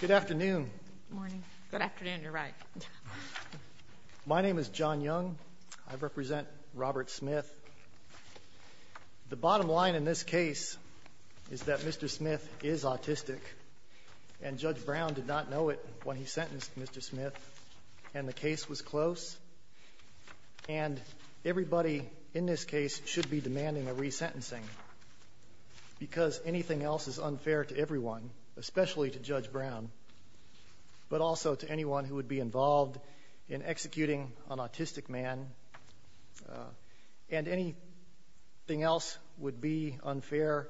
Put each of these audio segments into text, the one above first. Good afternoon. My name is John Young. I represent Robert Smith. The bottom line in this case is that Mr. Smith is autistic and Judge Brown did not know it when he sentenced Mr. Smith and the case was close and everybody in this case should be demanding a resentencing because anything else is unfair to everyone, especially to Judge Brown, but also to anyone who would be involved in executing an autistic man and anything else would be unfair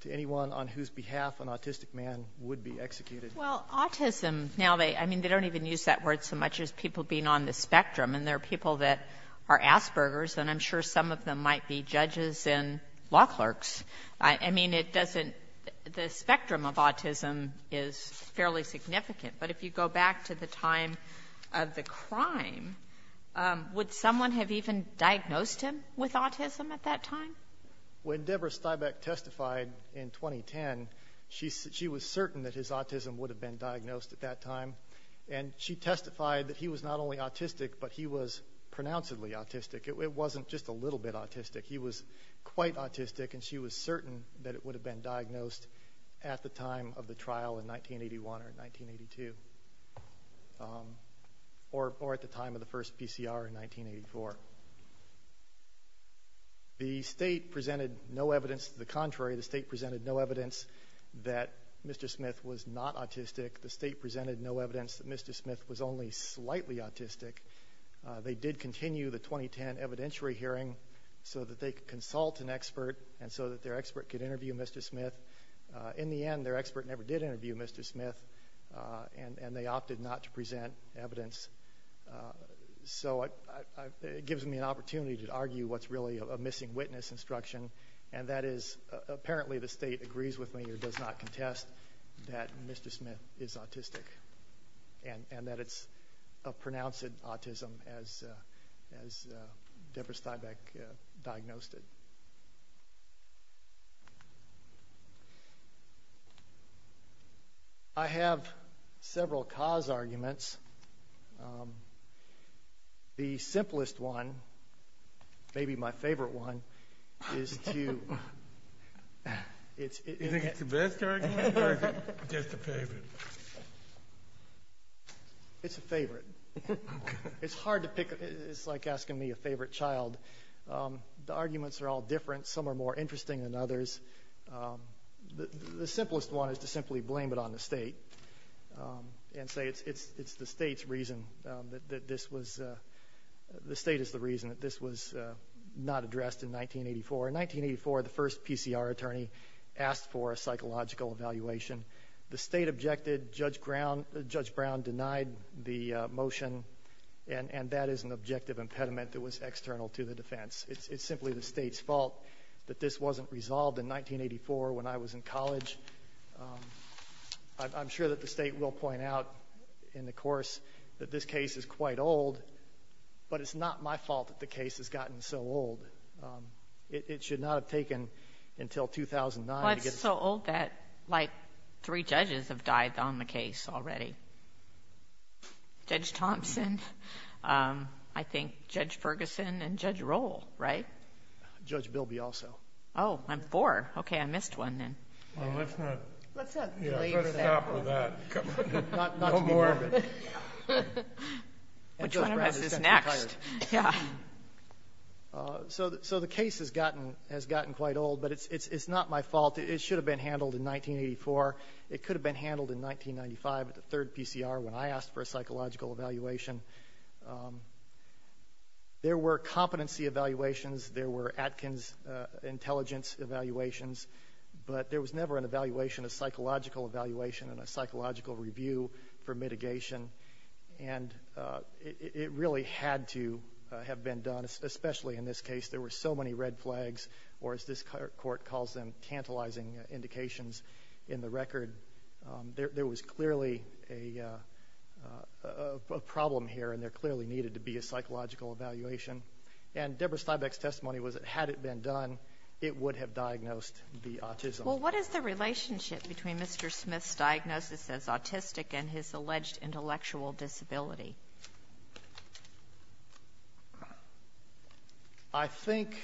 to anyone on whose behalf an autistic man would be executed. Well, autism now, I mean, they don't even use that word so much as people being on the spectrum and there are people that are Asperger's and I'm sure some of them might be judges and law clerks. I mean, it doesn't the spectrum of autism is fairly significant. But if you go back to the time of the crime, would someone have even diagnosed him with autism at that time? When Deborah Stibeck testified in 2010, she was certain that his autism would have been diagnosed at that time. And she testified that he was not only autistic, but he was quite autistic and she was certain that it would have been diagnosed at the time of the trial in 1981 or 1982 or at the time of the first PCR in 1984. The state presented no evidence to the contrary. The state presented no evidence that Mr. Smith was not autistic. The state presented no evidence that Mr. Smith was only slightly autistic. They did continue the 2010 evidentiary hearing so that they could consult an expert and so that their expert could interview Mr. Smith. In the end, their expert never did interview Mr. Smith and they opted not to present evidence. So it gives me an opportunity to argue what's really a missing witness instruction and that is apparently the state agrees with me or does not contest that Mr. Smith is autistic and that it's a pronounced autism as Deborah Stibeck diagnosed it. I have several cause arguments. The simplest one, maybe my favorite one, is to, it's, it's, do you think it's the best argument or is it just a favorite? It's a favorite. It's hard to pick, it's like asking me a favorite child. The arguments are all different. Some are more interesting than others. The simplest one is to simply blame it on the state and say it's the state's reason that this was, the state is the reason that this was not addressed in 1984. In 1984, the first PCR attorney asked for a psychological evaluation. The state objected. Judge Brown denied the motion and that is an objective impediment that was external to the defense. It's, it's simply the state's fault that this wasn't resolved in 1984 when I was in college. I'm sure that the state will point out in the course that this case is quite old, but it's not my fault that the case has gotten so old. It, it should not have taken until 2009 to get to this point. Well, it's so old that like three judges have died on the case already. Judge Thompson, I think, Judge Ferguson, and Judge Roll, right? Judge Bilby also. Oh, I'm four. Okay, I missed one then. Well, let's not. Let's not blaze that. Yeah, let's stop with that. Not to be morbid. No more. Which one of us is next? Yeah. So the case has gotten, has gotten quite old, but it's, it's not my fault. It should have been handled in 1984. It could have been handled in 1995 at the third PCR when I asked for a psychological evaluation. There were competency evaluations. There were Atkins intelligence evaluations, but there was never an evaluation, a psychological evaluation and a psychological review for mitigation. And it really had to have been done, especially in this case. There were so many red flags, or as this court calls them, tantalizing indications in the record. There was clearly a problem here, and there clearly needed to be a psychological evaluation. And Deborah Steinbeck's testimony was that had it been done, it would have diagnosed the autism. Well, what is the relationship between Mr. Smith's diagnosis as autistic and his alleged intellectual disability? I think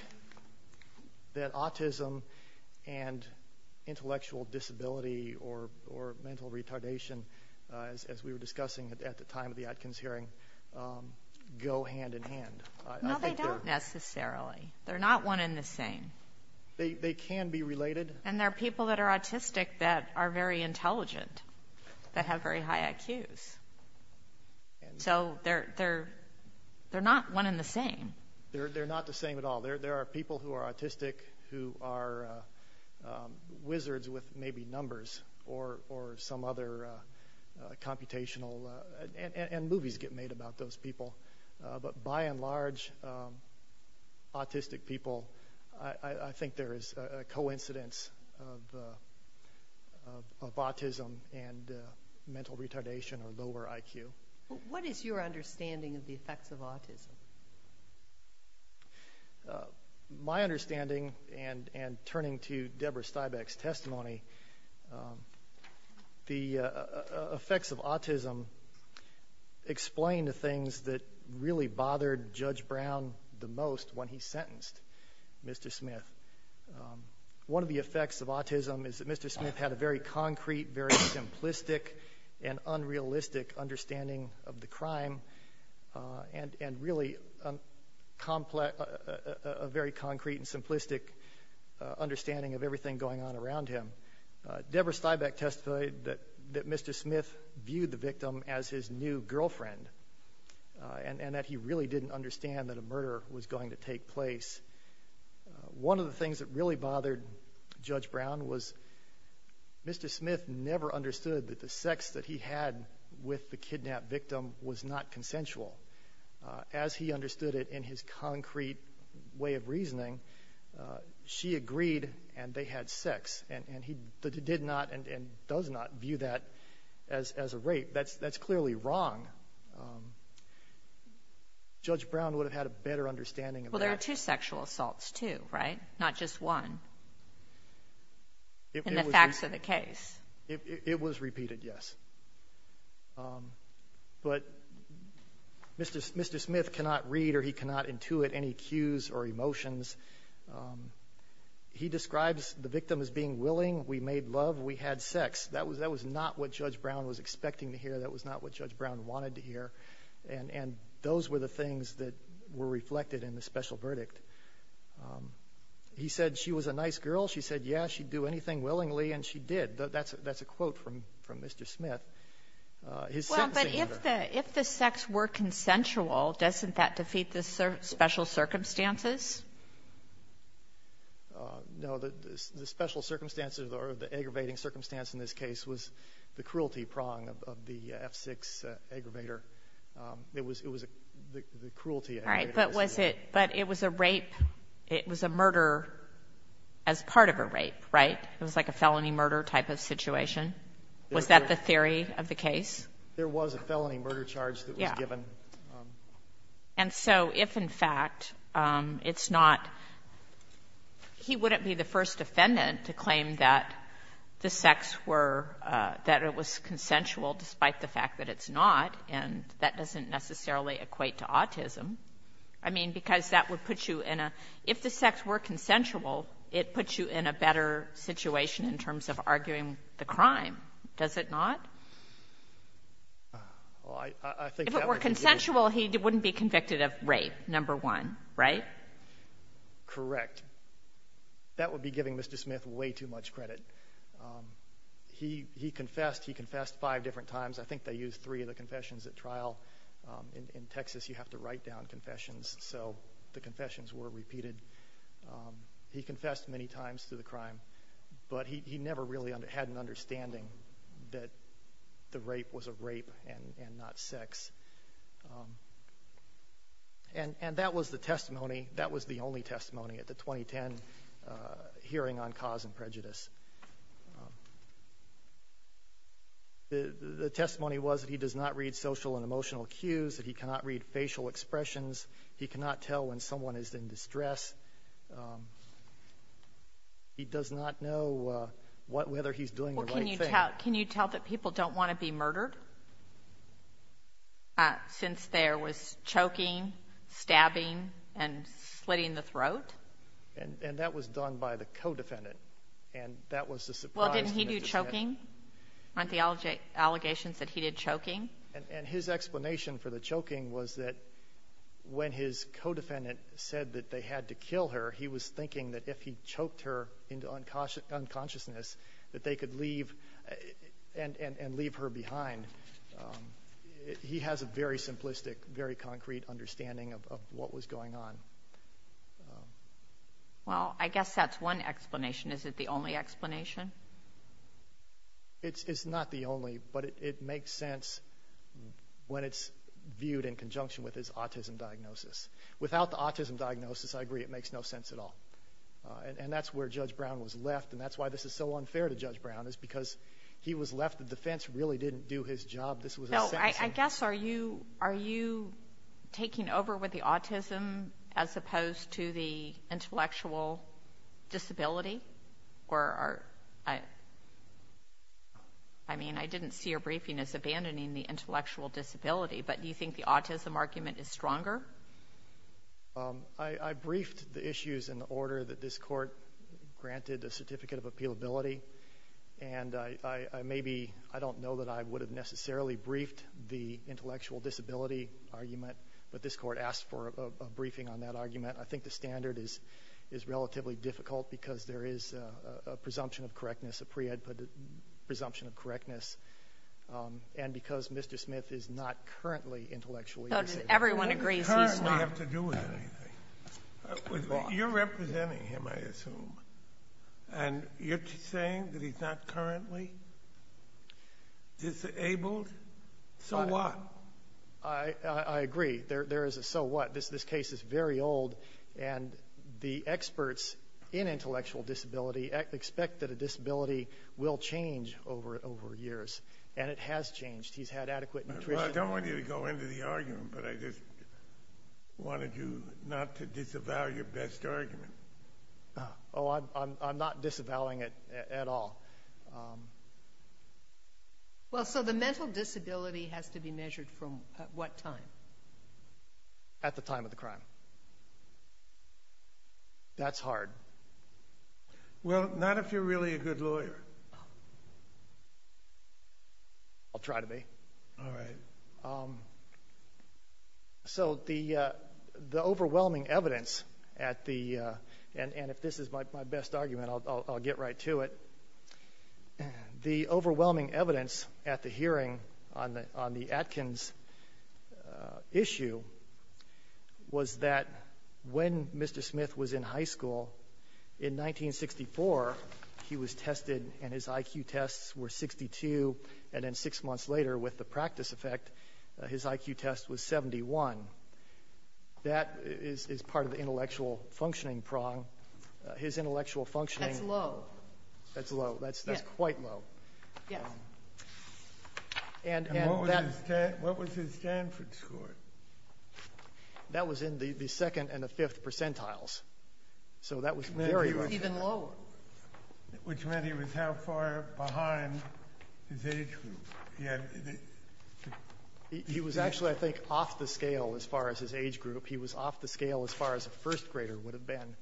that autism and intellectual disability or, or mental retardation, as, as we were discussing at the time of the Atkins hearing, go hand in hand. No, they don't necessarily. They're not one in the same. They can be related. And there are people that are autistic that are very intelligent, that have very high IQs. So they're, they're, they're not one in the same. They're not the same at all. There are people who are autistic who are wizards with maybe numbers or, or some other computational, and movies get made about those people. But by and large, autistic people, I, I think there is a coincidence of, of, of autism and mental retardation or lower IQ. What is your understanding of the effects of autism? My understanding, and, and turning to Deborah Steinbeck's testimony, the effects of autism explain the things that really bothered Judge Brown the most when he sentenced Mr. Smith. One of the effects of autism is that Mr. Smith had a very concrete, very simplistic and unrealistic understanding of the crime and, and really complex, a very concrete and simplistic understanding of everything going on around him. Deborah Steinbeck testified that, that Mr. Smith viewed the victim as his new girlfriend and, and that he really didn't understand that a murder was going to take place. One of the things that really bothered Judge Brown was Mr. Smith never understood that the sex that he had with the kidnapped victim was not consensual. As he understood it in his concrete way of reasoning, she agreed and they had sex. And, and he did not and, and does not view that as, as a rape. That's, that's clearly wrong. Judge Brown would have had a better understanding of that. Well, there are two sexual assaults, too, right? Not just one. In the facts of the case. It was repeated, yes. But Mr. Smith cannot read or he cannot intuit any cues or emotions. He describes the victim as being willing, we made love, we had sex. That was, that was not what Judge Brown was expecting to hear. That was not what Judge Brown wanted to hear. And those were the things that were reflected in the special verdict. He said she was a That's a quote from, from Mr. Smith. Well, but if the, if the sex were consensual, doesn't that defeat the special circumstances? No. The, the special circumstances or the aggravating circumstance in this case was the cruelty prong of, of the F-6 aggravator. It was, it was the, the cruelty aggravator. Right. But was it, but it was a rape, it was a murder as part of a rape, right? It was like a felony murder type of situation. Was that the theory of the case? There was a felony murder charge that was given. Yeah. And so if, in fact, it's not, he wouldn't be the first defendant to claim that the sex were, that it was consensual despite the fact that it's not, and that doesn't necessarily equate to autism. I mean, because that would put you in a, if the sex were consensual, it puts you in a better situation in terms of arguing the crime, does it not? Well, I, I think that would be the case. If it were consensual, he wouldn't be convicted of rape, number one, right? Correct. That would be giving Mr. Smith way too much credit. He, he confessed. He confessed five different times. I think they used three of the confessions at trial. In Texas, you have to write down confessions, so the confessions were repeated. He confessed many times to the crime, but he, he never really had an understanding that the rape was a rape and, and not sex. And, and that was the testimony, that was the only testimony at the 2010 hearing on cause and prejudice. The, the testimony was that he does not read social and emotional cues, that he cannot read facial expressions. He cannot tell when someone is in distress. He does not know whether he's doing the right thing. Well, can you tell, can you tell that people don't want to be murdered since there was choking, stabbing, and slitting the throat? And, and that was done by the co-defendant. And that was the surprise that he had. Well, didn't he do choking? Aren't the allegations that he did choking? And, and his explanation for the choking was that when his co-defendant said that they had to kill her, he was thinking that if he choked her into unconscious, unconsciousness, that they could leave, and, and, and leave her behind. He has a very simplistic, very concrete understanding of, of what was going on. Well, I guess that's one explanation. Is it the only explanation? It's, it's not the only, but it, it makes sense when it's viewed in conjunction with his autism diagnosis. Without the autism diagnosis, I agree, it makes no sense at all. And, and that's where Judge Brown was left, and that's why this is so unfair to Judge Brown, is because he was left, the defense really didn't do his job. This was a sentencing. I, I guess, are you, are you taking over with the autism as opposed to the intellectual disability? Or are, I, I mean, I didn't see your briefing as abandoning the intellectual disability, but do you think the autism argument is stronger? I, I briefed the issues in the order that this Court granted a certificate of appealability. And I, I, I may be, I don't know that I would have necessarily briefed the intellectual disability argument, but this Court asked for a, a briefing on that argument. I think the standard is, is relatively difficult because there is a, a presumption of correctness, a pre-ed presumption of correctness, and because Mr. Smith is not currently intellectually disabled. Everyone agrees he's not. It doesn't really have to do with anything. You're representing him, I assume. And you're saying that he's not currently disabled? So what? I, I, I agree. There, there is a so what. This, this case is very old, and the experts in intellectual disability expect that a disability will change over, over years. And it has changed. He's had adequate nutrition. Well, I don't want you to go into the argument, but I just wanted you not to disavow your best argument. Oh, I'm, I'm, I'm not disavowing it at, at all. Well, so the mental disability has to be measured from what time? At the time of the crime. That's hard. Well, not if you're really a good lawyer. I'll try to be. All right. So the, the overwhelming evidence at the, and, and if this is my, my best argument, I'll, I'll, I'll get right to it. The overwhelming evidence at the hearing on the, on the Atkins issue was that when Mr. Smith was in high school, in 1964, he was tested, and his IQ tests were 62, and then six months later, with the practice effect, his IQ test was 71. That is, is part of the intellectual functioning prong. His intellectual functioning... That's low. That's low. That's, that's quite low. Yes. And, and that... And what was his, what was his Stanford score? That was in the, the second and the fifth percentiles. So that was very low. Which meant he was even lower. Which meant he was how far behind his age group? He had... He was actually, I think, off the scale as far as his age group. He was off the scale as far as a first grader would have been.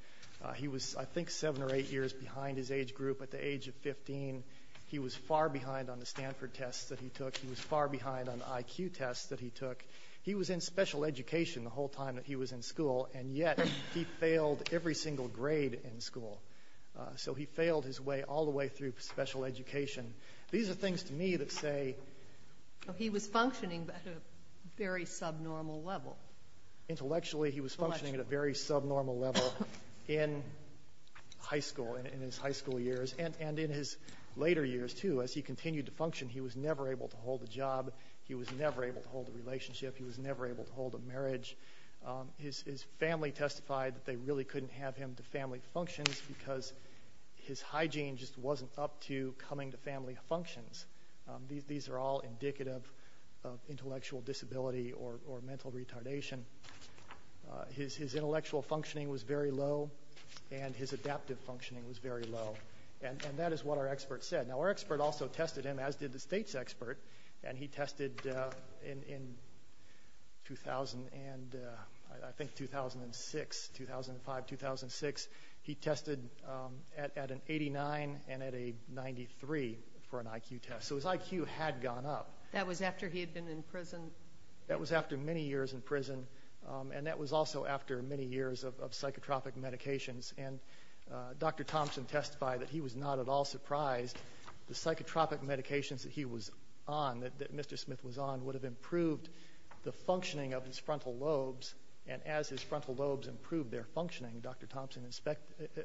He was, I think, seven or eight years behind his age group. At the age of 15, he was far behind on the Stanford tests that he took. He was far behind on the IQ tests that he took. He was in special education the whole time that he was in school, and yet he failed every single grade in school. So he failed his way all the way through special education. These are things to me that say... He was functioning at a very subnormal level. Intellectually, he was functioning at a very subnormal level in high school, in his high school years, and in his later years, too. As he continued to function, he was never able to hold a relationship. He was never able to hold a marriage. His family testified that they really couldn't have him to family functions because his hygiene just wasn't up to coming to family functions. These are all indicative of intellectual disability or mental retardation. His intellectual functioning was very low, and his adaptive functioning was very low. And that is what our expert said. Now, our expert also tested him, as did the state's expert, and he tested in, I think, 2006, 2005, 2006. He tested at an 89 and at a 93 for an IQ test. So his IQ had gone up. That was after he had been in prison? That was after many years in prison, and that was also after many years of psychotropic medications. And Dr. Thompson testified that he was not at all surprised. The psychotropic medications that he was on, that Mr. Smith was on, would have improved the functioning of his frontal lobes, and as his frontal lobes improved their functioning, Dr. Thompson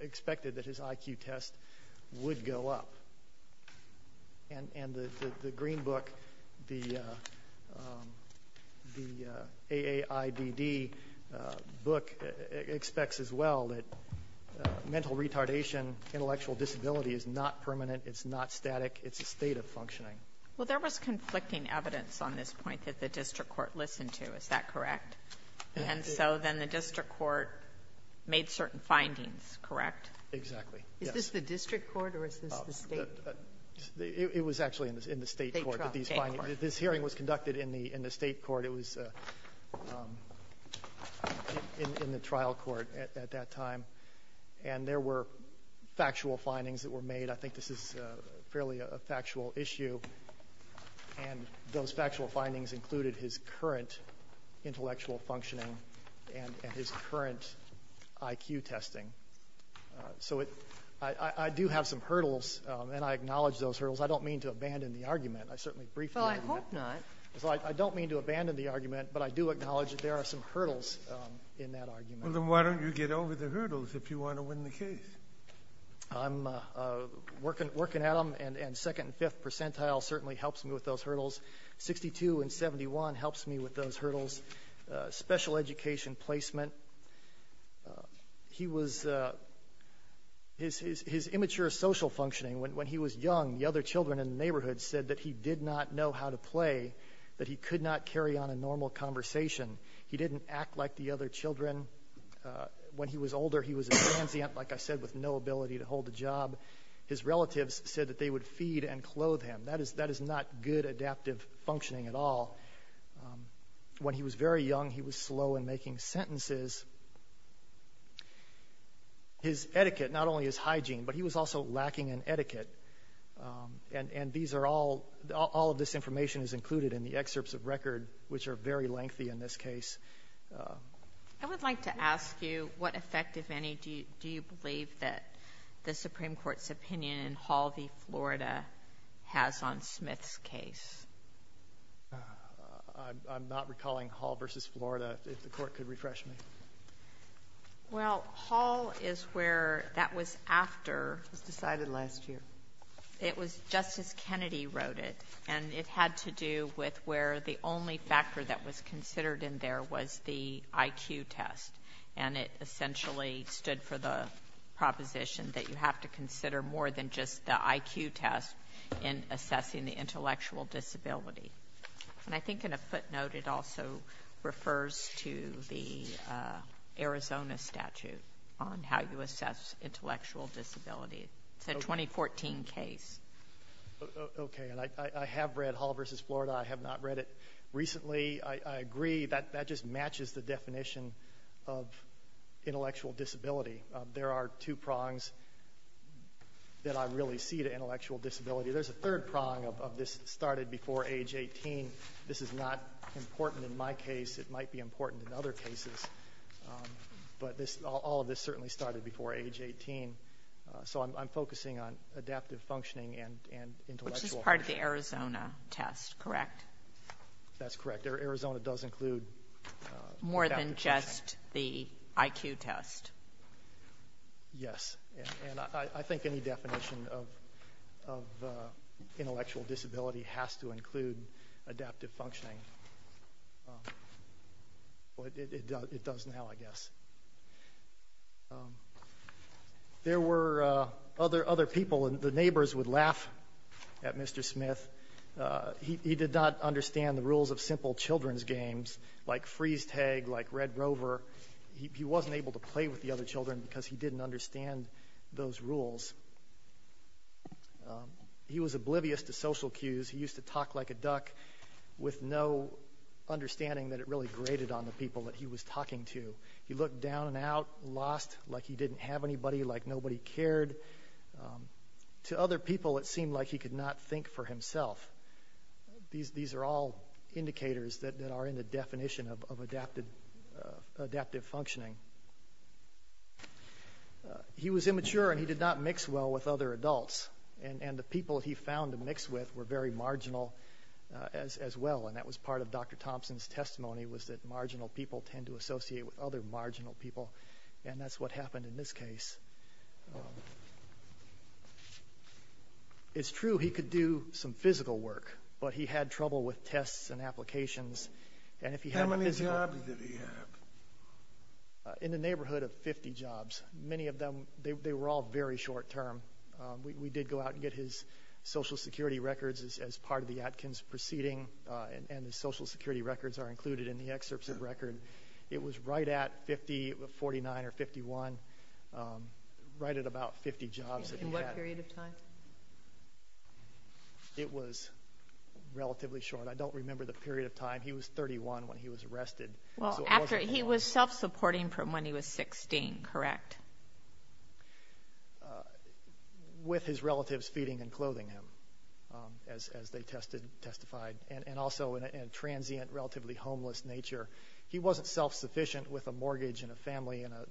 expected that his IQ test would go up. And the green book, the AAIDD book, expects as well that intellectual disability is not permanent, it's not static, it's a state of functioning. Well, there was conflicting evidence on this point that the district court listened to, is that correct? And so then the district court made certain findings, correct? Exactly. Yes. Is this the district court or is this the state? It was actually in the state court. State trial. State court. This hearing was conducted in the state court. It was in the trial court at that time. And there were factual findings that were made. I think this is fairly a factual issue. And those factual findings included his current intellectual functioning and his current IQ testing. So it — I do have some hurdles, and I acknowledge those hurdles. I don't mean to abandon the argument. I certainly briefed the argument. Well, I hope not. I don't mean to abandon the argument, but I do acknowledge that there are some hurdles in that argument. Well, then why don't you get over the hurdles if you want to win the case? I'm working at them, and second and fifth percentile certainly helps me with those hurdles. 62 and 71 helps me with those hurdles. Special education placement. He was — his immature social functioning, when he was young, the other children in the neighborhood said that he did not know how to play, that he could not carry on a normal conversation. He didn't act like the other children. When he was older, he was a transient, like I said, with no ability to hold a job. His relatives said that they would feed and clothe him. That is not good adaptive functioning at all. When he was very young, he was slow in making sentences. His etiquette, not only his hygiene, but he was also lacking in etiquette. And these are all — all of this which are very lengthy in this case. I would like to ask you, what effect, if any, do you believe that the Supreme Court's opinion in Hall v. Florida has on Smith's case? I'm not recalling Hall v. Florida. If the Court could refresh me. Well, Hall is where that was after — It was decided last year. It was — Justice Kennedy wrote it. And it had to do with where the only factor that was considered in there was the IQ test. And it essentially stood for the proposition that you have to consider more than just the IQ test in assessing the intellectual disability. And I think in a footnote, it also refers to the Arizona statute on how to assess intellectual disability. It's a 2014 case. Okay. And I have read Hall v. Florida. I have not read it recently. I agree that that just matches the definition of intellectual disability. There are two prongs that I really see to intellectual disability. There's a third prong of this that started before age 18. This is not important in my case. It might be important in other cases. But all of this certainly started before age 18. So I'm focusing on adaptive functioning and intellectual — Which is part of the Arizona test, correct? That's correct. Arizona does include adaptive functioning. More than just the IQ test. Yes. And I think any definition of intellectual disability has to include adaptive functioning. It does now, I guess. There were other people, and the neighbors would laugh at Mr. Smith. He did not understand the rules of simple children's games like freeze tag, like Red Rover. He wasn't able to play with the other children because he didn't understand those He was oblivious to social cues. He used to talk like a duck with no understanding that it really graded on the people that he was talking to. He looked down and out, lost, like he didn't have anybody, like nobody cared. To other people, it seemed like he could not think for himself. These are all indicators that are in the definition of adaptive functioning. He was immature, and he did not mix well with other adults. And the people he found to mix with were very marginal as well. And that was part of Dr. Thompson's testimony, was that marginal people tend to associate with other marginal people. And that's what happened in this case. It's true he could do some physical work, but he had trouble with tests and in the neighborhood of 50 jobs. Many of them, they were all very short-term. We did go out and get his Social Security records as part of the Atkins proceeding, and the Social Security records are included in the excerpts of record. It was right at 49 or 51, right at about 50 jobs. In what period of time? It was relatively short. I don't remember the period of time. He was 31 when he was arrested. He was self-supporting from when he was 16, correct? With his relatives feeding and clothing him, as they testified, and also in a transient, relatively homeless nature. He wasn't self-sufficient with a mortgage and a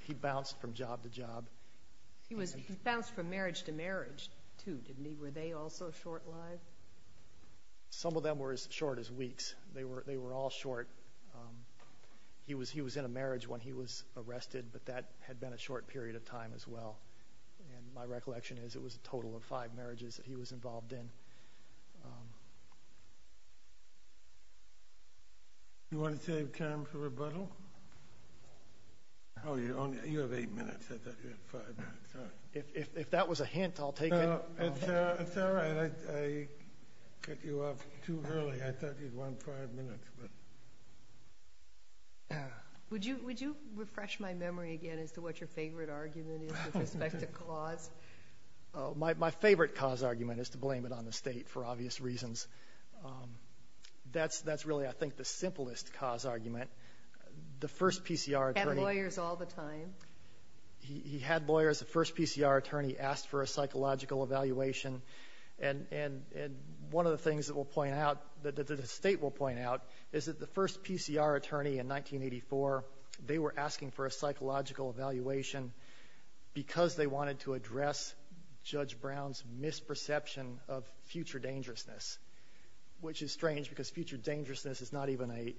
He bounced from marriage to marriage, too, didn't he? Were they also short-lived? Some of them were as short as weeks. They were all short. He was in a marriage when he was arrested, but that had been a short period of time as well. And my recollection is it was a total of five marriages that he was involved in. You want to save time for rebuttal? You have eight minutes. I thought you had five minutes. If that was a hint, I'll take it. It's all right. I cut you off too early. I thought you'd want five minutes. Would you refresh my memory again as to what your favorite argument is with respect to cause? My favorite cause argument is to blame it on the State, for obvious reasons. That's really, I think, the simplest cause argument. The first PCR attorney Had lawyers all the time. He had lawyers. The first PCR attorney asked for a psychological evaluation. And one of the things that we'll point out, that the State will point out, is that the first PCR attorney in 1984, they were asking for a psychological evaluation because they found future dangerousness, which is strange because future dangerousness is not even an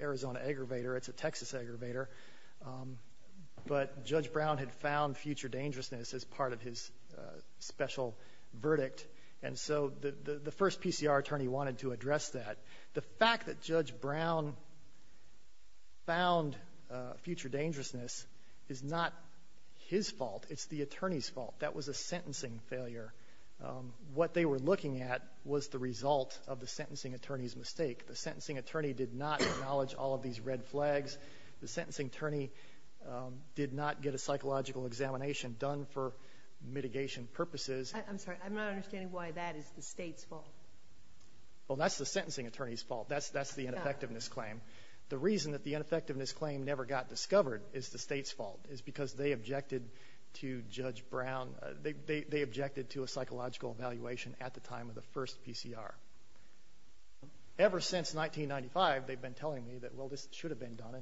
Arizona aggravator. It's a Texas aggravator. But Judge Brown had found future dangerousness as part of his special verdict. And so the first PCR attorney wanted to address that. The fact that Judge Brown found future dangerousness is not his fault. It's the attorney's fault. I'm sorry. I'm not understanding why that is the State's fault. Well, that's the sentencing attorney's fault. That's the ineffectiveness claim. The reason that the ineffectiveness claim never got discovered is the State's fault. It's because they objected to Judge Brown. They objected to the psychological evaluation at the time of the first PCR. Ever since 1995, they've been telling me that, well, this should have been done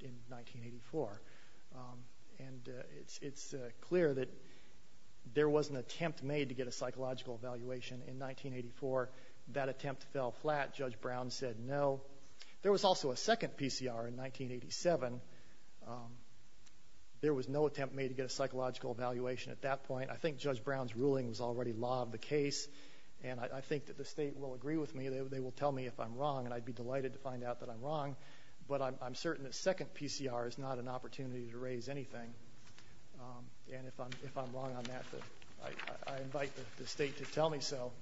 in 1984. And it's clear that there was an attempt made to get a psychological evaluation in 1984. That attempt fell flat. Judge Brown said no. There was also a second PCR in 1987. There was no attempt made to get a psychological evaluation at that point. I think Judge Brown's ruling was already law of the case. And I think that the State will agree with me. They will tell me if I'm wrong. And I'd be delighted to find out that I'm wrong. But I'm certain that second PCR is not an opportunity to raise anything. And if I'm wrong on that, I invite the State to tell me so.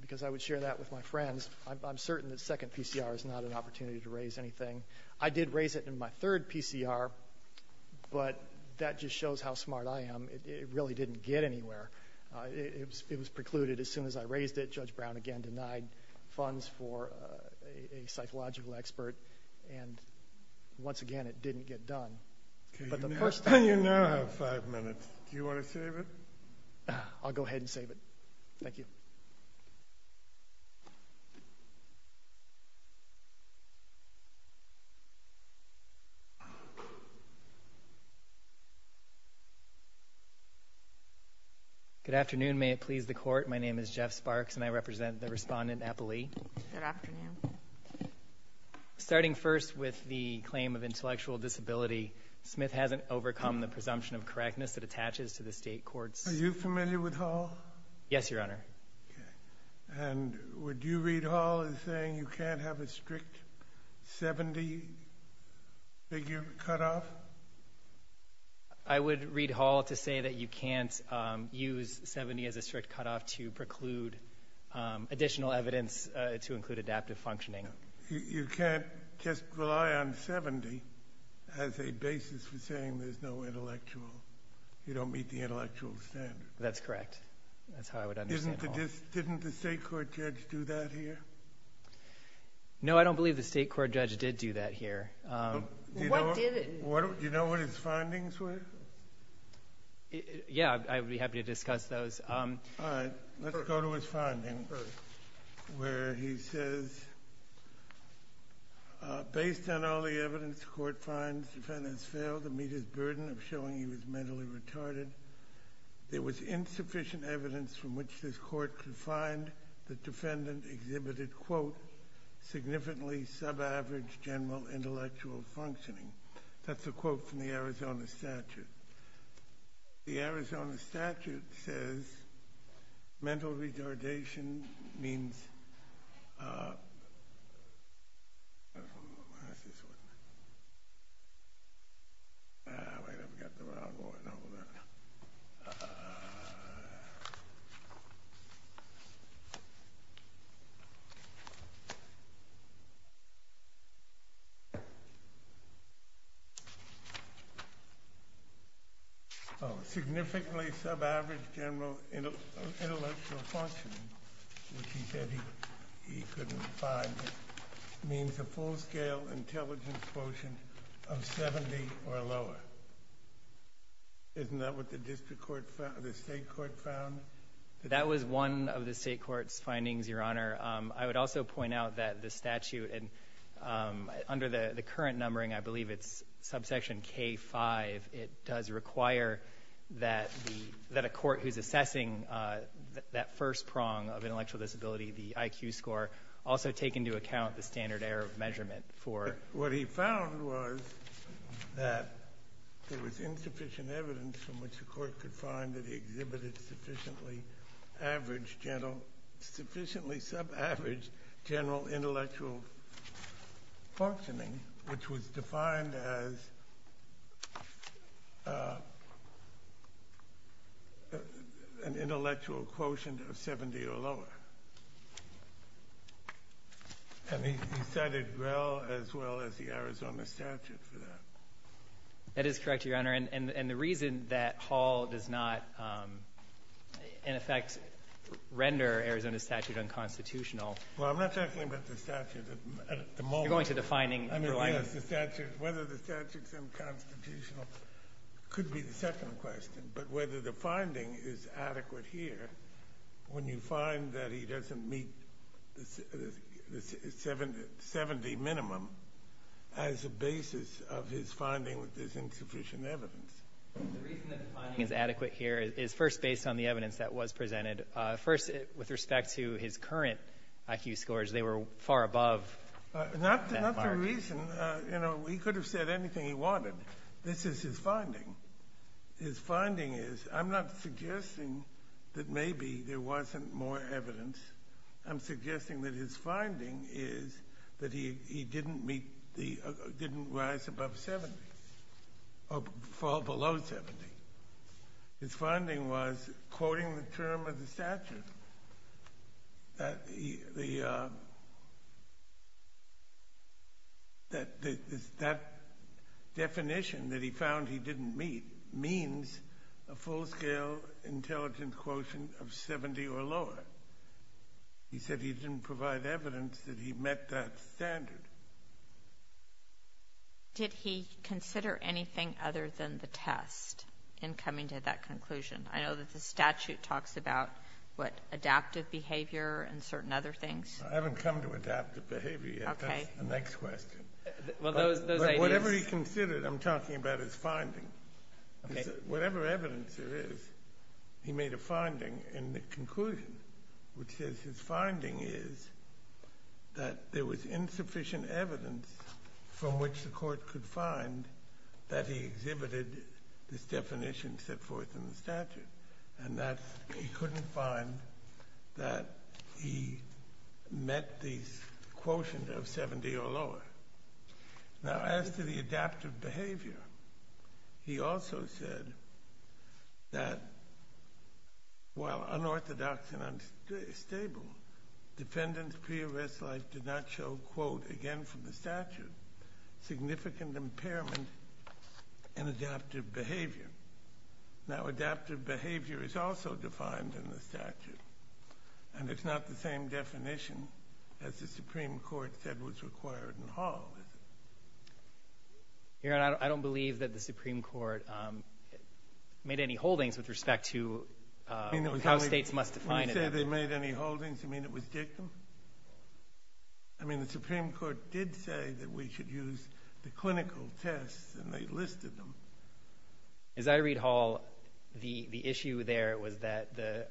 Because I would share that with my friends. I'm certain that second PCR is not an opportunity to raise anything. I did raise it in my third PCR, but that just shows how smart I am. It really didn't get anywhere. It was precluded as soon as I raised it. Judge Brown, again, denied funds for a psychological expert. And once again, it didn't get done. You now have five minutes. Do you want to save it? I'll go ahead and save it. Thank you. Good afternoon. May it please the Court. My name is Jeff Sparks, and I represent the Respondent Appley. Good afternoon. Starting first with the claim of intellectual disability, Smith hasn't overcome the presumption of correctness that attaches to the State courts. Are you familiar with Hall? Yes, Your Honor. And would you read Hall as saying you can't have a strict 70-figure cutoff? I would read Hall to say that you can't use 70 as a strict cutoff to preclude additional evidence to include adaptive functioning. You can't just rely on 70 as a basis for saying there's no intellectual. You don't meet the intellectual standard. That's correct. That's how I would understand Hall. Didn't the State court judge do that here? No, I don't believe the State court judge did do that here. What did it? Do you know what his findings were? Yeah, I'd be happy to discuss those. All right. Let's go to his findings, where he says, based on all the evidence the Court finds defendants failed to meet his burden of showing he was mentally retarded, there was insufficient evidence from which this Court could find the defendant exhibited, quote, significantly sub-average general intellectual functioning. That's a quote from the Arizona statute. The Arizona statute says mental retardation means... Significantly sub-average general intellectual functioning, which he said he couldn't find, means a full-scale intelligence quotient of 70 or lower. Isn't that what the district court found, the State court found? That was one of the State court's findings, Your Honor. I would also point out that the statute, and under the current numbering, I believe it's subsection K-5, it does require that a court who's assessing that first prong of intellectual disability, the IQ score, also take into account the standard error of measurement for... What he found was that there was insufficient evidence from which the Court could find that he exhibited sufficiently average general or sufficiently sub-average general intellectual functioning, which was defined as an intellectual quotient of 70 or lower. And he cited Grell as well as the Arizona statute for that. That is correct, Your Honor. And the reason that Hall does not, in effect, render Arizona's statute unconstitutional... Well, I'm not talking about the statute at the moment. I mean, yes, the statute, whether the statute's unconstitutional could be the second question, but whether the finding is adequate here when you find that he doesn't meet the 70 minimum as a basis of his finding that there's insufficient evidence. The reason that the finding is adequate here is first based on the evidence that was presented. First, with respect to his current IQ scores, they were far above... Not the reason. You know, he could have said anything he wanted. This is his finding. His finding is, I'm not suggesting that maybe there wasn't more evidence. I'm suggesting that his finding is that he was below 70. His finding was, quoting the term of the statute, that definition that he found he didn't meet means a full-scale intelligent quotient of 70 or lower. He said he didn't provide evidence that he met that standard. Did he consider anything other than the test in coming to that conclusion? I know that the statute talks about, what, adaptive behavior and certain other things. I haven't come to adaptive behavior yet. Okay. That's the next question. Well, those ideas... Whatever he considered, I'm talking about his finding. Okay. Whatever evidence there is, he made a finding in the conclusion, which says his finding is that there was insufficient evidence from which the court could find that he exhibited this definition set forth in the statute, and that he couldn't find that he met the quotient of 70 or lower. Now, as to the adaptive behavior, he also said that, while unorthodox and unstable, defendants' pre-arrest life did not show, quote, again from the statute, significant impairment in adaptive behavior. Now, adaptive behavior is also defined in the statute, and it's not the same definition as the Supreme Court said was required in Hall, is it? Your Honor, I don't believe that the Supreme Court made any holdings with respect to how states must define it. When you say they made any holdings, you mean it was dictum? I mean, the Supreme Court did say that we should use the clinical tests, and they listed them. As I read Hall, the issue there was that the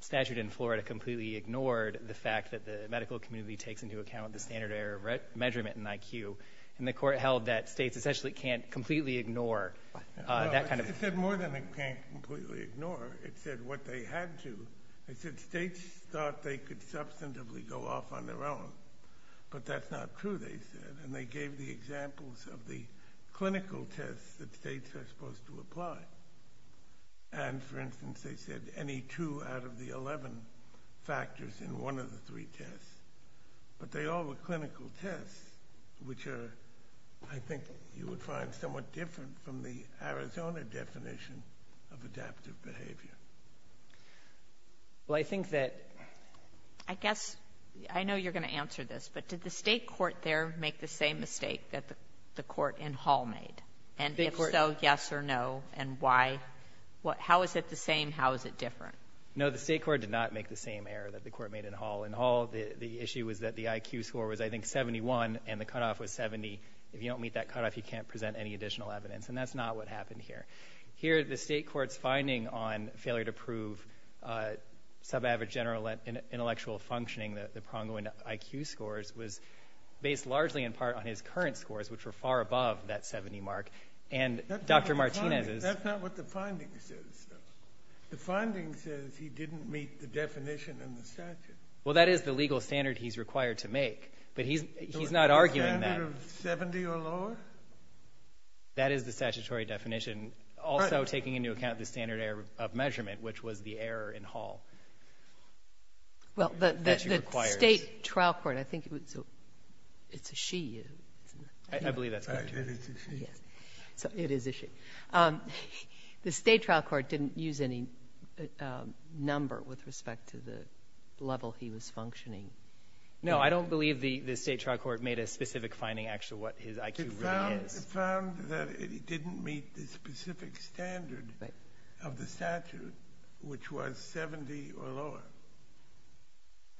statute in Florida completely ignored the fact that the medical community takes into account the standard error measurement in IQ, and the Court held that states essentially can't completely ignore that kind of thing. It said more than it can't completely ignore. It said what they had to. It said states thought they could substantively go off on their own, but that's not true, they said, and they gave the examples of the clinical tests that states are supposed to apply. And, for instance, they said any two out of the 11 factors in one of the three tests, but they all were clinical tests, which are, I think, you would find somewhat different from the Arizona definition of adaptive behavior. Well, I think that ---- I guess I know you're going to answer this, but did the State court there make the same mistake that the court in Hall made? And if so, yes or no, and why? How is it the same? How is it different? No, the State court did not make the same error that the court made in Hall. In Hall, the issue was that the IQ score was, I think, 71, and the cutoff was 70. If you don't meet that cutoff, you can't present any additional evidence. And that's not what happened here. Here, the State court's finding on failure to prove subaverage general intellectual functioning, the pronging IQ scores, was based largely in part on his current scores, which were far above that 70 mark. And Dr. Martinez's ---- That's not what the finding says, though. The finding says he didn't meet the definition in the statute. Well, that is the legal standard he's required to make, but he's not arguing that. The standard of 70 or lower? That is the statutory definition, also taking into account the standard error of measurement, which was the error in Hall. Well, the State trial court, I think it was a ---- it's a she. I believe that's correct. It's a she. It is a she. The State trial court didn't use any number with respect to the level he was functioning. No, I don't believe the State trial court made a specific finding as to what his IQ really is. It found that he didn't meet the specific standard of the statute, which was 70 or lower.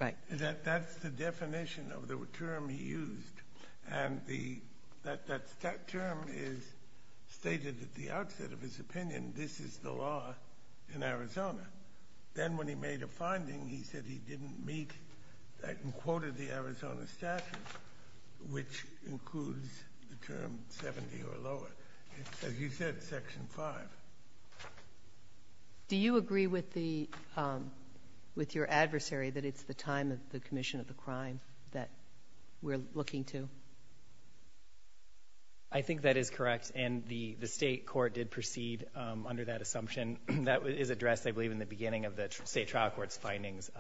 Right. That's the definition of the term he used. And the ---- that term is stated at the outset of his opinion, this is the law in Arizona. Then when he made a finding, he said he didn't meet that and quoted the Arizona statute, which includes the term 70 or lower. It's, as you said, Section 5. Do you agree with the ---- with your adversary that it's the time of the commission of the crime that we're looking to? I think that is correct. And the State court did proceed under that assumption. That is addressed, I believe, in the beginning of the State trial court's findings,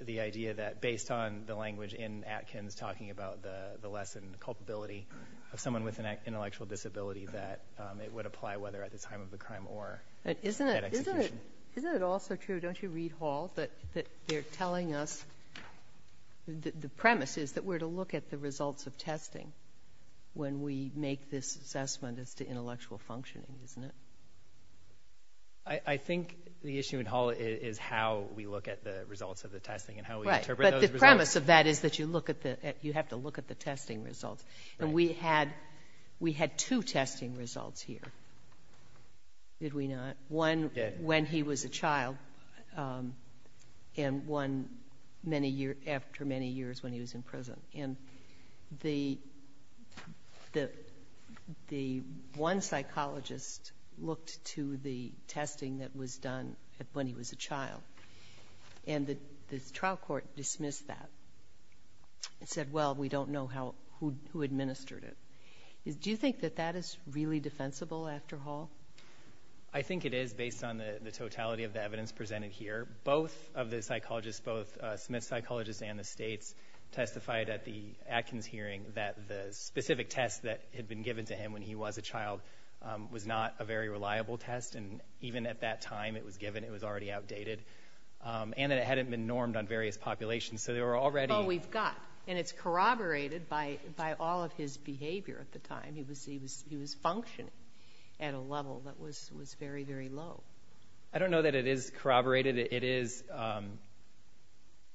the idea that based on the language in Atkins talking about the lessened culpability of someone with an intellectual disability, that it would apply whether at the time of the crime or at execution. Isn't it also true, don't you read Hall, that they're telling us the premise is that we're to look at the results of testing when we make this assessment as to intellectual functioning, isn't it? I think the issue in Hall is how we look at the results of the testing and how we interpret those results. Right. But the premise of that is that you look at the ---- you have to look at the testing results. And we had two testing results here, did we not? One when he was a child and one many years ---- after many years when he was in prison. And the one psychologist looked to the testing that was done when he was a child, and the trial court dismissed that and said, well, we don't know how ---- who administered it. Do you think that that is really defensible after Hall? I think it is based on the totality of the evidence presented here. Both of the psychologists, both Smith's psychologists and the States testified at the Atkins hearing that the specific test that had been given to him when he was a child was not a very reliable test. And even at that time it was given, it was already outdated. And that it hadn't been normed on various populations. So there were already ---- Well, we've got. And it's corroborated by all of his behavior at the time. He was functioning at a level that was very, very low. I don't know that it is corroborated. It is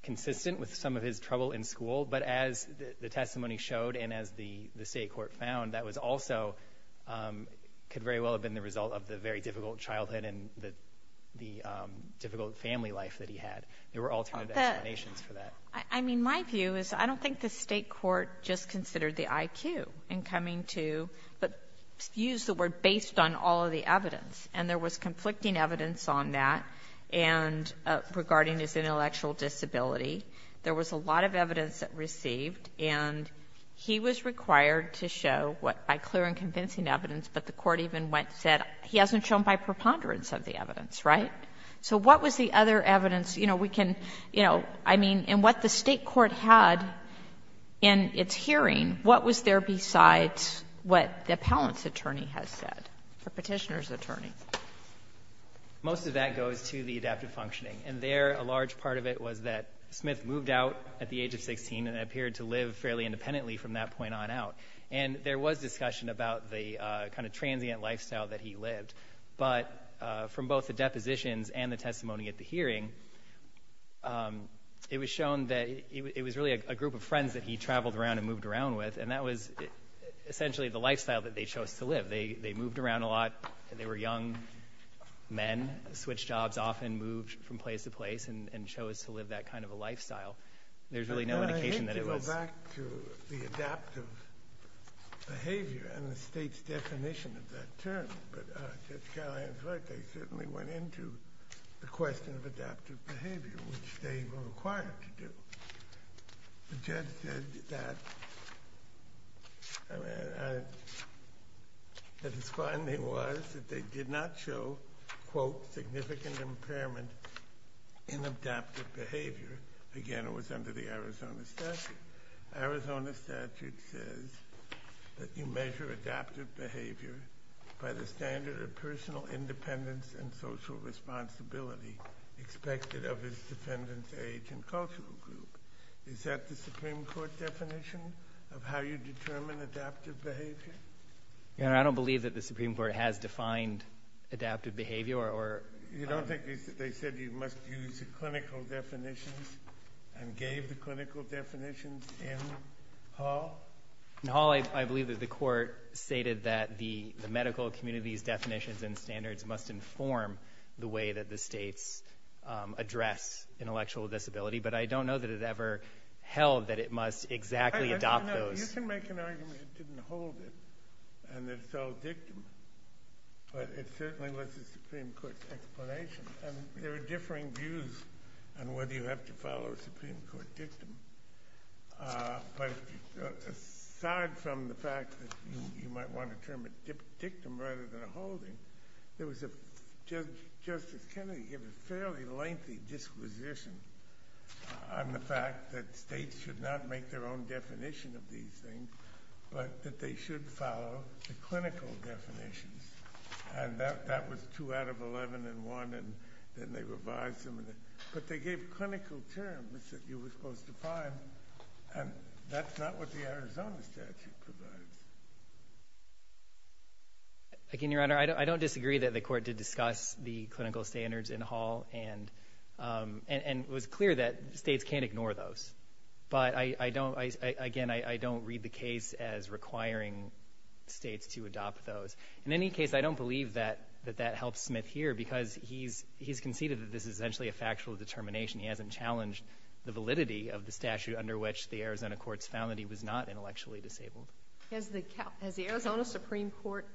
consistent with some of his trouble in school. But as the testimony showed and as the State court found, that was also ---- could very well have been the result of the very difficult childhood and the difficult family life that he had. There were alternate explanations for that. I mean, my view is I don't think the State court just considered the IQ in coming to, but used the word based on all of the evidence. And there was conflicting evidence on that and regarding his intellectual disability. There was a lot of evidence that received. And he was required to show what by clear and convincing evidence, but the court even went and said he hasn't shown by preponderance of the evidence, right? So what was the other evidence? You know, we can, you know, I mean, and what the State court had in its hearing, what was there besides what the appellant's attorney has said, the Petitioner's attorney? Most of that goes to the adaptive functioning. And there, a large part of it was that Smith moved out at the age of 16 and appeared to live fairly independently from that point on out. And there was discussion about the kind of transient lifestyle that he lived. But from both the depositions and the testimony at the hearing, it was shown that it was really a group of friends that he traveled around and moved around with. And that was essentially the lifestyle that they chose to live. They moved around a lot. They were young men, switched jobs often, moved from place to place, and chose to live that kind of a lifestyle. There's really no indication that it was. I want to go back to the adaptive behavior and the State's definition of that term. But Judge Callahan's right. They certainly went into the question of adaptive behavior, which they were required to do. But Judge said that, I mean, that his finding was that they did not show, quote, significant impairment in adaptive behavior. Again, it was under the Arizona statute. Arizona statute says that you measure adaptive behavior by the standard of personal independence and social responsibility expected of its defendant's age and cultural group. Is that the Supreme Court definition of how you determine adaptive behavior? Your Honor, I don't believe that the Supreme Court has defined adaptive behavior. You don't think they said you must use the clinical definitions and gave the clinical definitions in Hall? In Hall, I believe that the Court stated that the medical community's definitions and standards must inform the way that the States address intellectual disability. But I don't know that it ever held that it must exactly adopt those. You can make an argument it didn't hold it and that it's all dictum. But it certainly was the Supreme Court's explanation. And there are differing views on whether you have to follow a Supreme Court dictum. But aside from the fact that you might want to term it dictum rather than holding, there was a, Judge Justice Kennedy gave a fairly lengthy disquisition on the fact that they should follow the clinical definitions. And that was two out of 11 in one. And then they revised them. But they gave clinical terms that you were supposed to find. And that's not what the Arizona statute provides. Again, Your Honor, I don't disagree that the Court did discuss the clinical standards in Hall and it was clear that States can't ignore those. But I don't, again, I don't read the case as requiring States to adopt those. In any case, I don't believe that that helps Smith here because he's conceded that this is essentially a factual determination. He hasn't challenged the validity of the statute under which the Arizona courts found that he was not intellectually disabled. Has the Arizona Supreme Court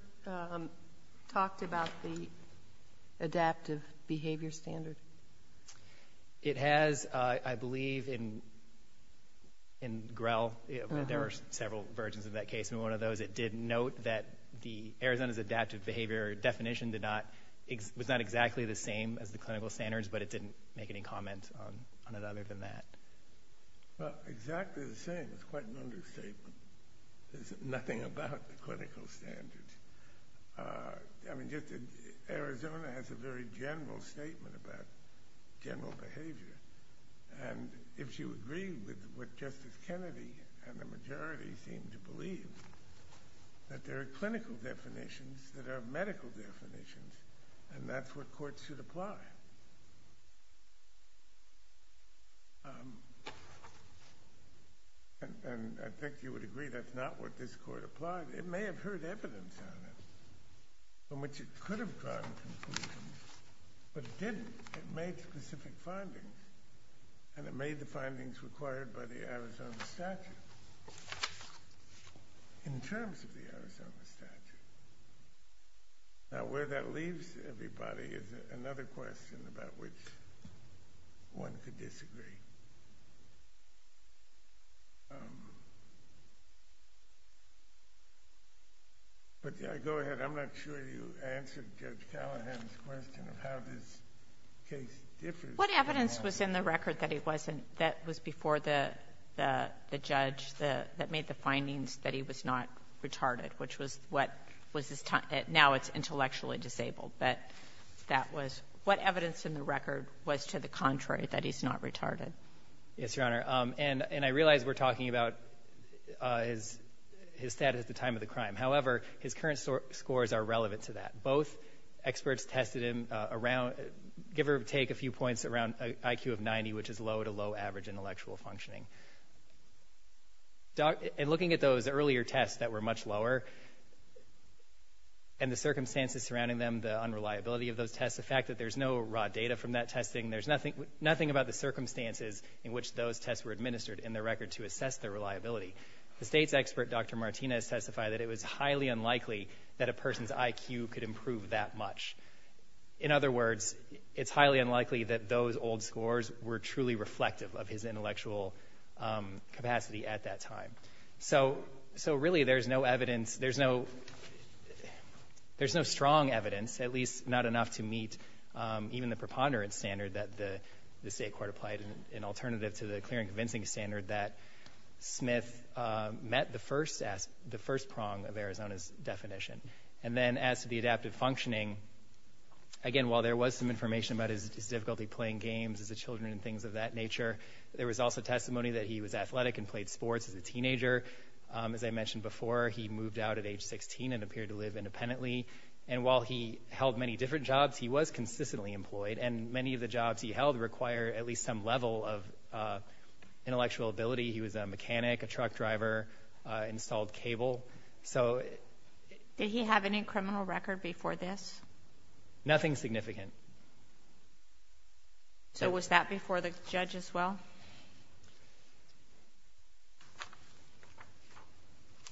talked about the adaptive behavior standard? It has, I believe, in Grell. There are several versions of that case. In one of those it did note that Arizona's adaptive behavior definition was not exactly the same as the clinical standards, but it didn't make any comment on it other than that. Well, exactly the same is quite an understatement. There's nothing about the clinical standards. I mean, Arizona has a very general statement about general behavior, and if you agree with what Justice Kennedy and the majority seem to believe, that there are clinical definitions that are medical definitions, and that's what courts should apply. And I think you would agree that's not what this Court applied. It may have heard evidence on it from which it could have drawn conclusions, but it didn't. It made specific findings, and it made the findings required by the Arizona statute in terms of the Arizona statute. Now, where that leaves everybody is another question about which one could disagree. But, yeah, go ahead. I'm not sure you answered Judge Callahan's question of how this case differs. What evidence was in the record that he wasn't — that was before the judge that made the findings that he was not retarded, which was what was his — now it's intellectually disabled, but that was — what evidence in the record was to the contrary that he's not retarded? Yes, Your Honor. And I realize we're talking about his status at the time of the crime. However, his current scores are relevant to that. Both experts tested him around — give or take a few points around an IQ of 90, which is low to low average intellectual functioning. And looking at those earlier tests that were much lower, and the circumstances surrounding them, the unreliability of those tests, the fact that there's no raw data from that testing, there's nothing about the circumstances in which those tests were administered in the record to assess their reliability. The state's expert, Dr. Martinez, testified that it was highly unlikely that a person's IQ could improve that much. In other words, it's highly unlikely that those old scores were truly reflective of his intellectual capacity at that time. So, really, there's no evidence — there's no strong evidence, at least not enough to meet even the preponderance standard that the state court applied, an alternative to the clear and convincing standard that Smith met the first prong of Arizona's definition. And then, as to the adaptive functioning, again, while there was some information about his difficulty playing games as a children and things of that nature, there was also testimony that he was athletic and played sports as a teenager. As I mentioned before, he moved out at age 16 and appeared to live independently. And while he held many different jobs, he was consistently employed. And many of the jobs he held require at least some level of intellectual ability. He was a mechanic, a truck driver, installed cable. So — Did he have any criminal record before this? Nothing significant. So was that before the judge as well?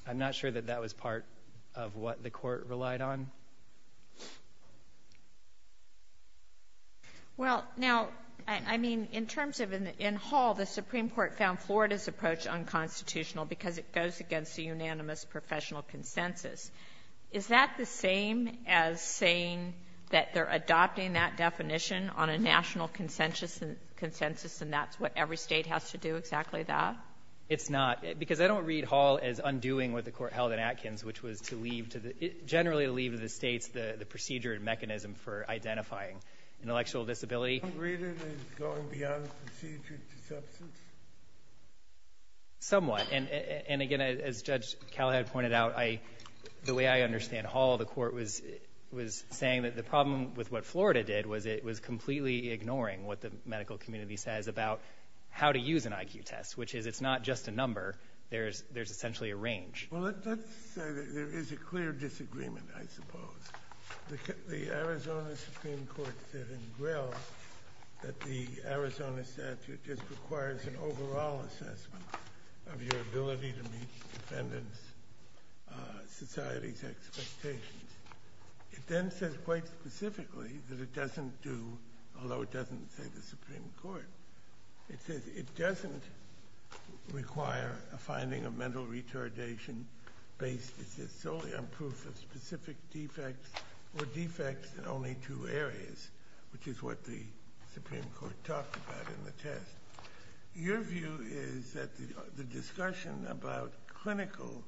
I'm not sure that that was part of what the Court relied on. Well, now, I mean, in terms of — in Hall, the Supreme Court found Florida's approach unconstitutional because it goes against the unanimous professional consensus. Is that the same as saying that they're adopting that definition on a national consensus, and that's what every State has to do, exactly that? It's not. Because I don't read Hall as undoing what the Court held in Atkins, which was to leave to the — generally to leave to the States the procedure and mechanism for identifying intellectual disability. You don't read it as going beyond procedure to substance? Somewhat. And again, as Judge Callahad pointed out, I — the way I understand Hall, the Court was saying that the problem with what Florida did was it was completely ignoring what the medical community says about how to use an IQ test, which is it's not just a number. There's essentially a range. Well, let's say that there is a clear disagreement, I suppose. The Arizona Supreme Court said in Grill that the Arizona statute just requires an IQ test. It then says quite specifically that it doesn't do — although it doesn't say the Supreme Court, it says it doesn't require a finding of mental retardation based, it says, solely on proof of specific defects or defects in only two areas, which is what the Supreme Court talked about in the test. Your view is that the discussion about clinical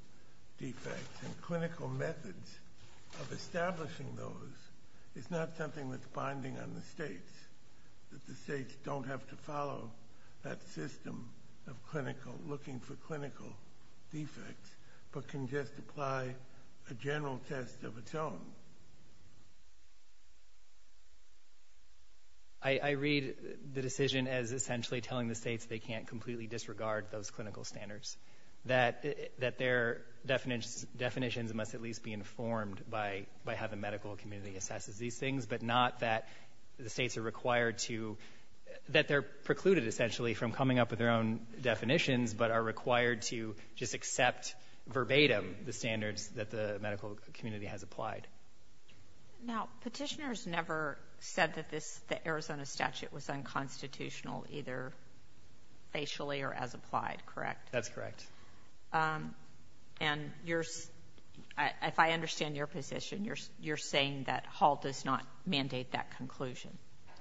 defects and clinical methods of establishing those is not something that's binding on the States, that the States don't have to follow that system of clinical — looking for clinical defects, but can just apply a general test of its own? I read the decision as essentially telling the States they can't completely disregard those clinical standards, that their definitions must at least be informed by how the medical community assesses these things, but not that the States are required to — that they're precluded, essentially, from coming up with their own definitions, but are required to just accept verbatim the standards that the medical community has applied. Now, Petitioner's never said that this — the Arizona statute was unconstitutional either facially or as applied, correct? That's correct. And you're — if I understand your position, you're saying that Hall does not mandate that conclusion.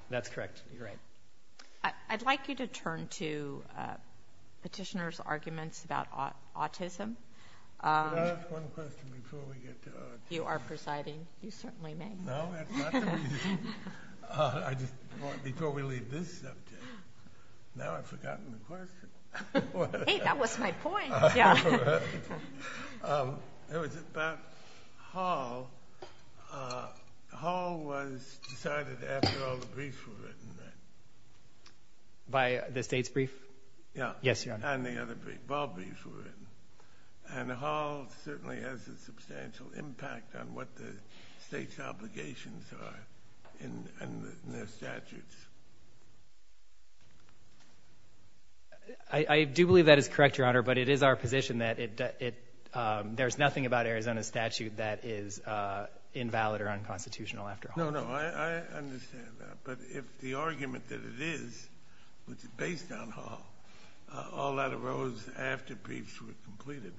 That's correct. You're right. I'd like you to turn to Petitioner's arguments about autism. Can I ask one question before we get to autism? You are presiding. You certainly may. No, that's not the reason. I just — before we leave this subject, now I've forgotten the question. Hey, that was my point. Yeah. It was about Hall. Hall was decided after all the briefs were written, right? By the States' brief? Yeah. Yes, Your Honor. And the other briefs, Bob's briefs were written. And Hall certainly has a substantial impact on what the States' obligations are in their statutes. I do believe that is correct, Your Honor, but it is our position that it — there's nothing about Arizona's statute that is invalid or unconstitutional after Hall. No, no. I understand that. But if the argument that it is, which is based on Hall, all that arose after briefs were completed.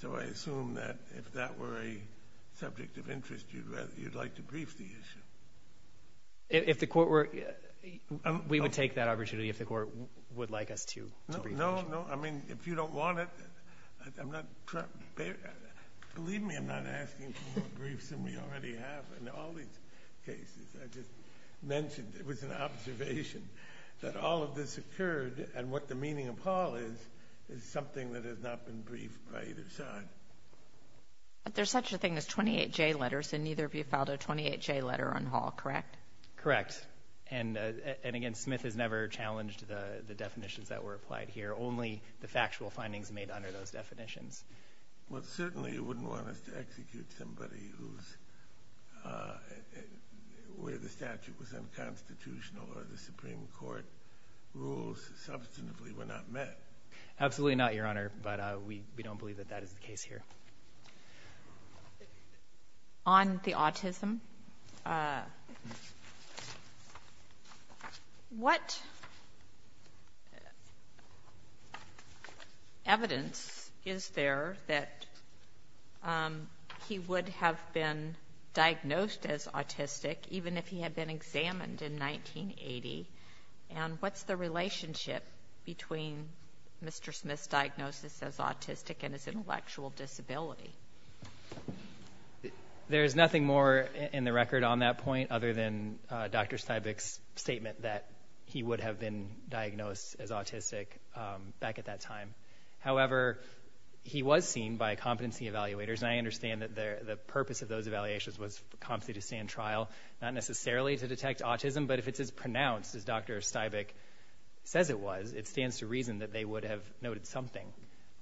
So I assume that if that were a subject of interest, you'd rather — you'd like to brief the issue. If the Court were — we would take that opportunity if the Court would like us to brief the issue. No, no. I mean, if you don't want it, I'm not — believe me, I'm not asking for more briefs than we already have in all these cases. I just mentioned it was an observation that all of this occurred, and what the meaning of Hall is, is something that has not been briefed by either side. But there's such a thing as 28J letters, and neither of you filed a 28J letter on Hall, correct? Correct. And, again, Smith has never challenged the definitions that were applied here, only the factual findings made under those definitions. Well, certainly you wouldn't want us to execute somebody who's — where the statute was unconstitutional or the Supreme Court rules substantively were not met. Absolutely not, Your Honor. But we don't believe that that is the case here. On the autism, what evidence is there that he would have been diagnosed as autistic even if he had been examined in 1980? And what's the relationship between Mr. Smith's diagnosis as autistic and his intellectual disability? There's nothing more in the record on that point other than Dr. Steinbeck's statement that he would have been diagnosed as autistic back at that time. However, he was seen by competency evaluators, and I understand that the purpose of those evaluations was for competency to stand trial, not necessarily to detect autism. But if it's as pronounced as Dr. Steinbeck says it was, it stands to reason that they would have noted something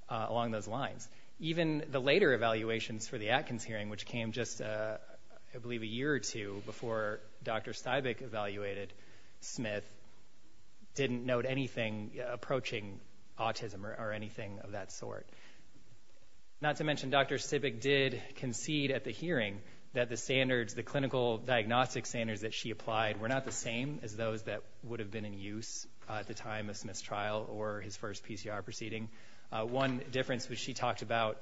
along those lines. Even the later evaluations for the Atkins hearing, which came just, I believe, a year or two before Dr. Steinbeck evaluated Smith, didn't note anything approaching autism or anything of that sort. Not to mention, Dr. Steinbeck did concede at the hearing that the standards, the clinical diagnostic standards that she applied were not the same as those that would have been in use at the time of Smith's trial or his first PCR proceeding. One difference was she talked about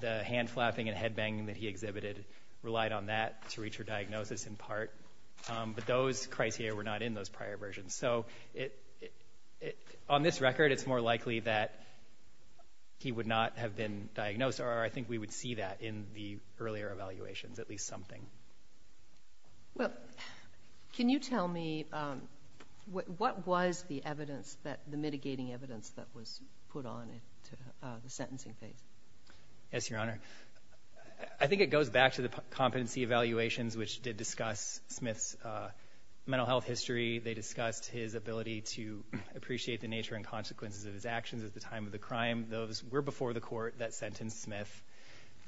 the hand-flapping and head-banging that he exhibited relied on that to reach her diagnosis in part. But those criteria were not in those prior versions. So on this record, it's more likely that he would not have been diagnosed, or I think we would see that in the earlier evaluations, at least something. Well, can you tell me what was the evidence that the mitigating evidence that was put on at the sentencing phase? Yes, Your Honor. I think it goes back to the competency evaluations, which did discuss Smith's mental health history. They discussed his ability to appreciate the nature and consequences of his actions at the time of the crime. Those were before the Court that sentenced Smith.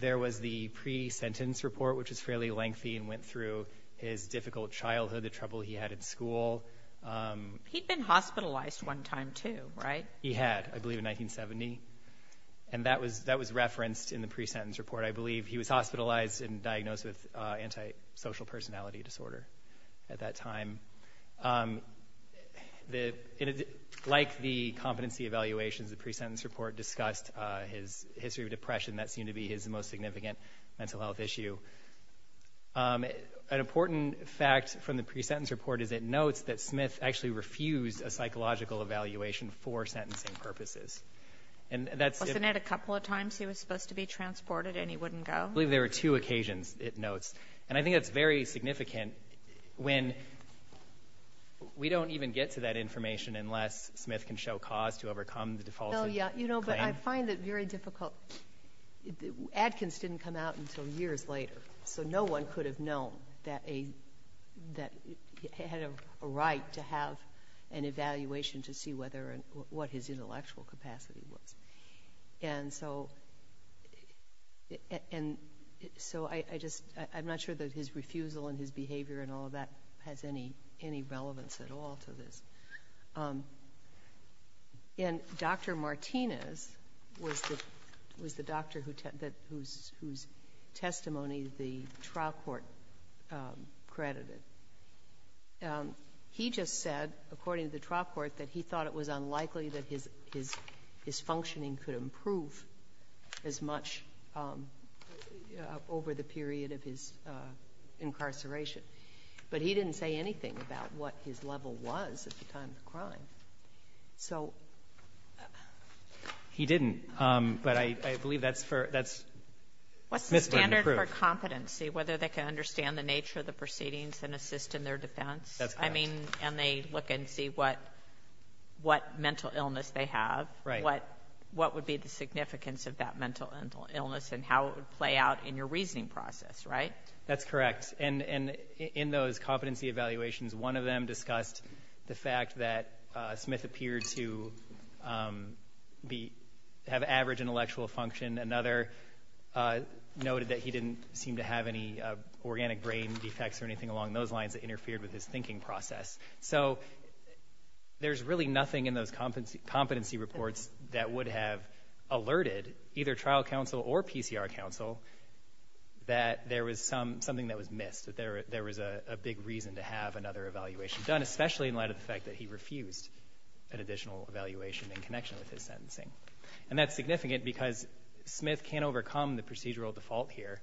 There was the pre-sentence report, which was fairly lengthy and went through his difficult childhood, the trouble he had at school. He'd been hospitalized one time, too, right? He had, I believe, in 1970. And that was referenced in the pre-sentence report. I believe he was hospitalized and diagnosed with antisocial personality disorder at that time. Like the competency evaluations, the pre-sentence report discussed his history of depression. That seemed to be his most significant mental health issue. An important fact from the pre-sentence report is it notes that Smith actually refused a psychological evaluation for sentencing purposes. And that's if — Wasn't it a couple of times he was supposed to be transported and he wouldn't go? I believe there were two occasions, it notes. And I think that's very significant when we don't even get to that information unless Smith can show cause to overcome the defaulted claim. Well, yeah, but I find it very difficult. Atkins didn't come out until years later, so no one could have known that he had a right to have an evaluation to see what his intellectual capacity was. And so I'm not sure that his refusal and his behavior and all of that has any relevance at all to this. And Dr. Martinez was the doctor whose testimony the trial court credited. He just said, according to the trial court, that he thought it was unlikely that his functioning could improve as much over the period of his incarceration. But he didn't say anything about what his level was at the time of the crime. So he didn't. But I believe that's for — that's Smith couldn't prove. What's the standard for competency, whether they can understand the nature of the proceedings and assist in their defense? That's correct. I mean, and they look and see what mental illness they have. Right. What would be the significance of that mental illness and how it would play out in your reasoning process, right? That's correct. And in those competency evaluations, one of them discussed the fact that Smith appeared to have average intellectual function. Another noted that he didn't seem to have any organic brain defects or anything along those lines that interfered with his thinking process. So there's really nothing in those competency reports that would have alerted either trial counsel or PCR counsel that there was something that was missed, that there was a big reason to have another evaluation done, especially in light of the fact that he refused an additional evaluation in connection with his sentencing. And that's significant because Smith can't overcome the procedural default here.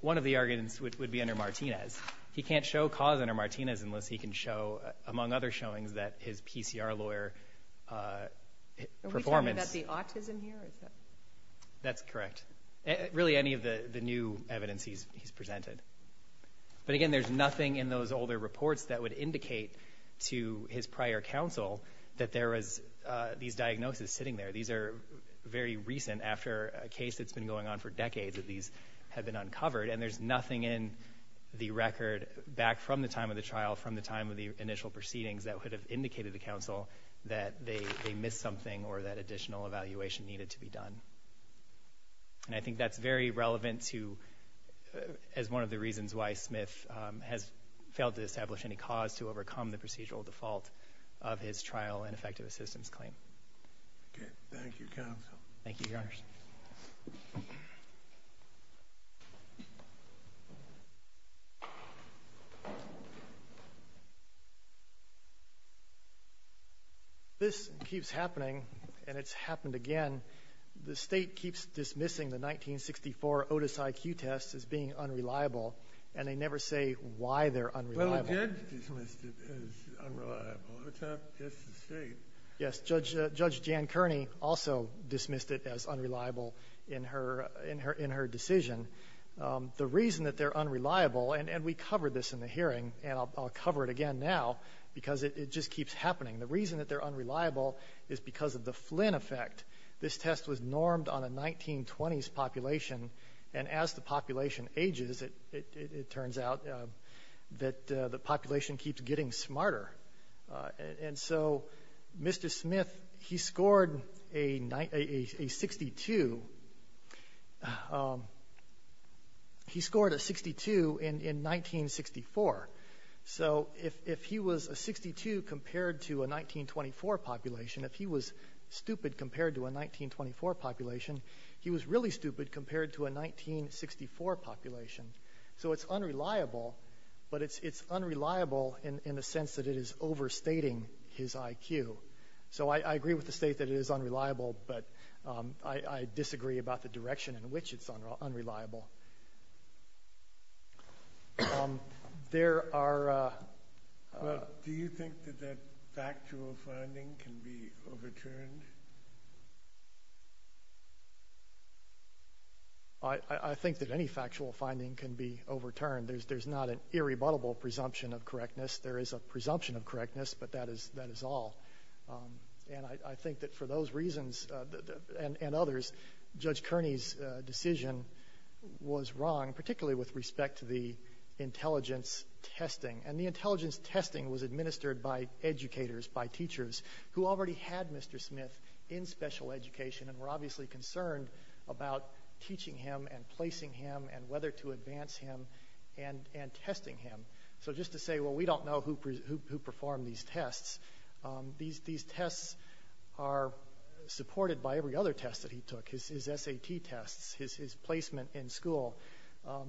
One of the arguments would be under Martinez. He can't show cause under Martinez unless he can show, among other showings, that his PCR lawyer performance — Are we talking about the autism here? That's correct. Really, any of the new evidence he's presented. But again, there's nothing in those older reports that would indicate to his prior counsel that there was these diagnoses sitting there. These are very recent, after a case that's been going on for decades, that these have been uncovered. And there's nothing in the record back from the time of the trial, from the time of the initial proceedings, that would have indicated to counsel that they missed something or that And I think that's very relevant to — as one of the reasons why Smith has failed to establish any cause to overcome the procedural default of his trial and effective assistance claim. Okay. Thank you, counsel. Thank you, Your Honor. This keeps happening, and it's happened again. The State keeps dismissing the 1964 Otis IQ test as being unreliable, and they never say why they're unreliable. Well, the judge dismissed it as unreliable. It's not just the State. Yes, Judge Jan Kearney also dismissed it as unreliable in her decision. The reason that they're unreliable, and we covered this in the hearing, and I'll cover it again now, because it just keeps happening. The reason that they're unreliable is because of the Flynn effect. This test was normed on a 1920s population, and as the population ages, it turns out that the population keeps getting smarter. And so Mr. Smith, he scored a 62 in 1964. So if he was a 62 compared to a 1924 population, if he was stupid compared to a 1924 population, he was really stupid compared to a 1964 population. So it's unreliable, but it's unreliable in the sense that it is overstating his IQ. So I agree with the State that it is unreliable, but I disagree about the direction in which it's unreliable. Do you think that that factual finding can be overturned? I think that any factual finding can be overturned. There's not an irrebuttable presumption of correctness. There is a presumption of correctness, but that is all. And I think that for those reasons and others, Judge Kearney's decision was wrong, particularly with respect to the intelligence testing. And the intelligence testing was administered by educators, by teachers, who already had Mr. Smith in special education and were obviously concerned about teaching him and placing him and whether to advance him and testing him. So just to say, well, we don't know who performed these tests. These tests are supported by every other test that he took, his SAT tests, his placement in school.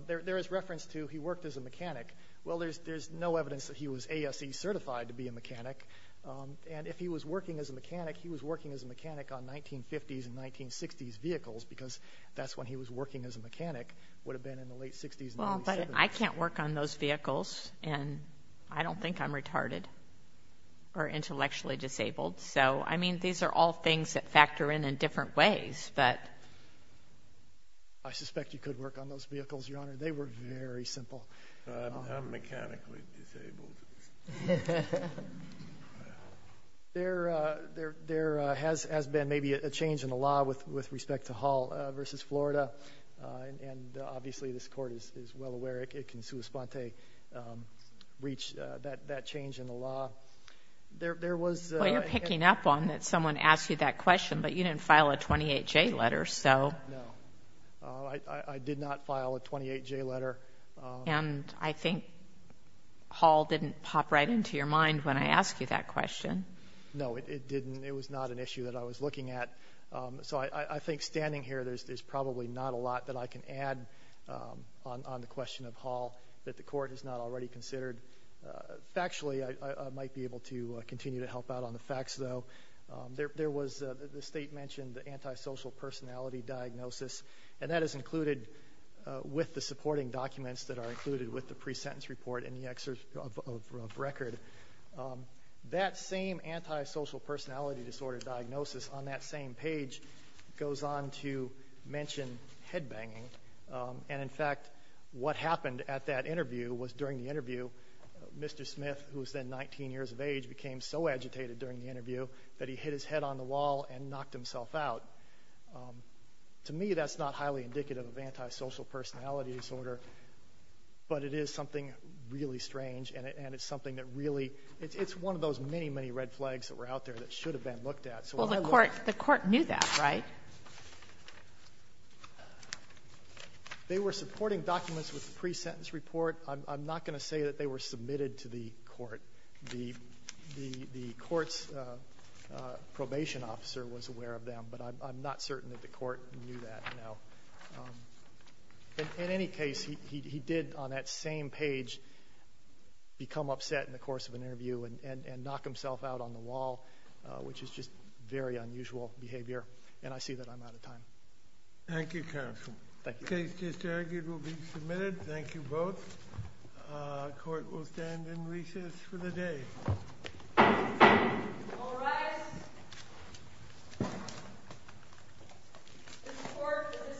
There is reference to he worked as a mechanic. Well, there's no evidence that he was ASE certified to be a mechanic. And if he was working as a mechanic, he was working as a mechanic on 1950s and 1960s vehicles, because that's when he was working as a mechanic, would have been in the late 60s and early 70s. Well, but I can't work on those vehicles, and I don't think I'm retarded or intellectually disabled. So, I mean, these are all things that factor in in different ways. But I suspect you could work on those vehicles, Your Honor. They were very simple. I'm mechanically disabled. There has been maybe a change in the law with respect to Hall v. Florida. And obviously this Court is well aware it can sui sponte reach that change in the law. There was ---- Well, you're picking up on that someone asked you that question. But you didn't file a 28J letter, so. No. I did not file a 28J letter. And I think Hall didn't pop right into your mind when I asked you that question. No, it didn't. It was not an issue that I was looking at. So I think standing here, there's probably not a lot that I can add on the question of Hall that the Court has not already considered. Factually, I might be able to continue to help out on the facts, though. There was the State mentioned the antisocial personality diagnosis, and that is included with the supporting documents that are included with the pre-sentence report and the excerpt of record. That same antisocial personality disorder diagnosis on that same page goes on to mention headbanging. And, in fact, what happened at that interview was during the interview, Mr. Smith, who was then 19 years of age, became so agitated during the interview that he hit his head on the wall and knocked himself out. To me, that's not highly indicative of antisocial personality disorder, but it is something really strange, and it's something that really — it's one of those many, many red flags that were out there that should have been looked at. Well, the Court knew that, right? They were supporting documents with the pre-sentence report. I'm not going to say that they were submitted to the Court. The Court's probation officer was aware of them, but I'm not certain that the Court knew that. No. In any case, he did on that same page become upset in the course of an interview and knock himself out on the wall, which is just very unusual behavior. And I see that I'm out of time. Thank you, counsel. Thank you. The case just argued will be submitted. Thank you both. The Court will stand in recess for the day. All rise. The Court for this session stands adjourned.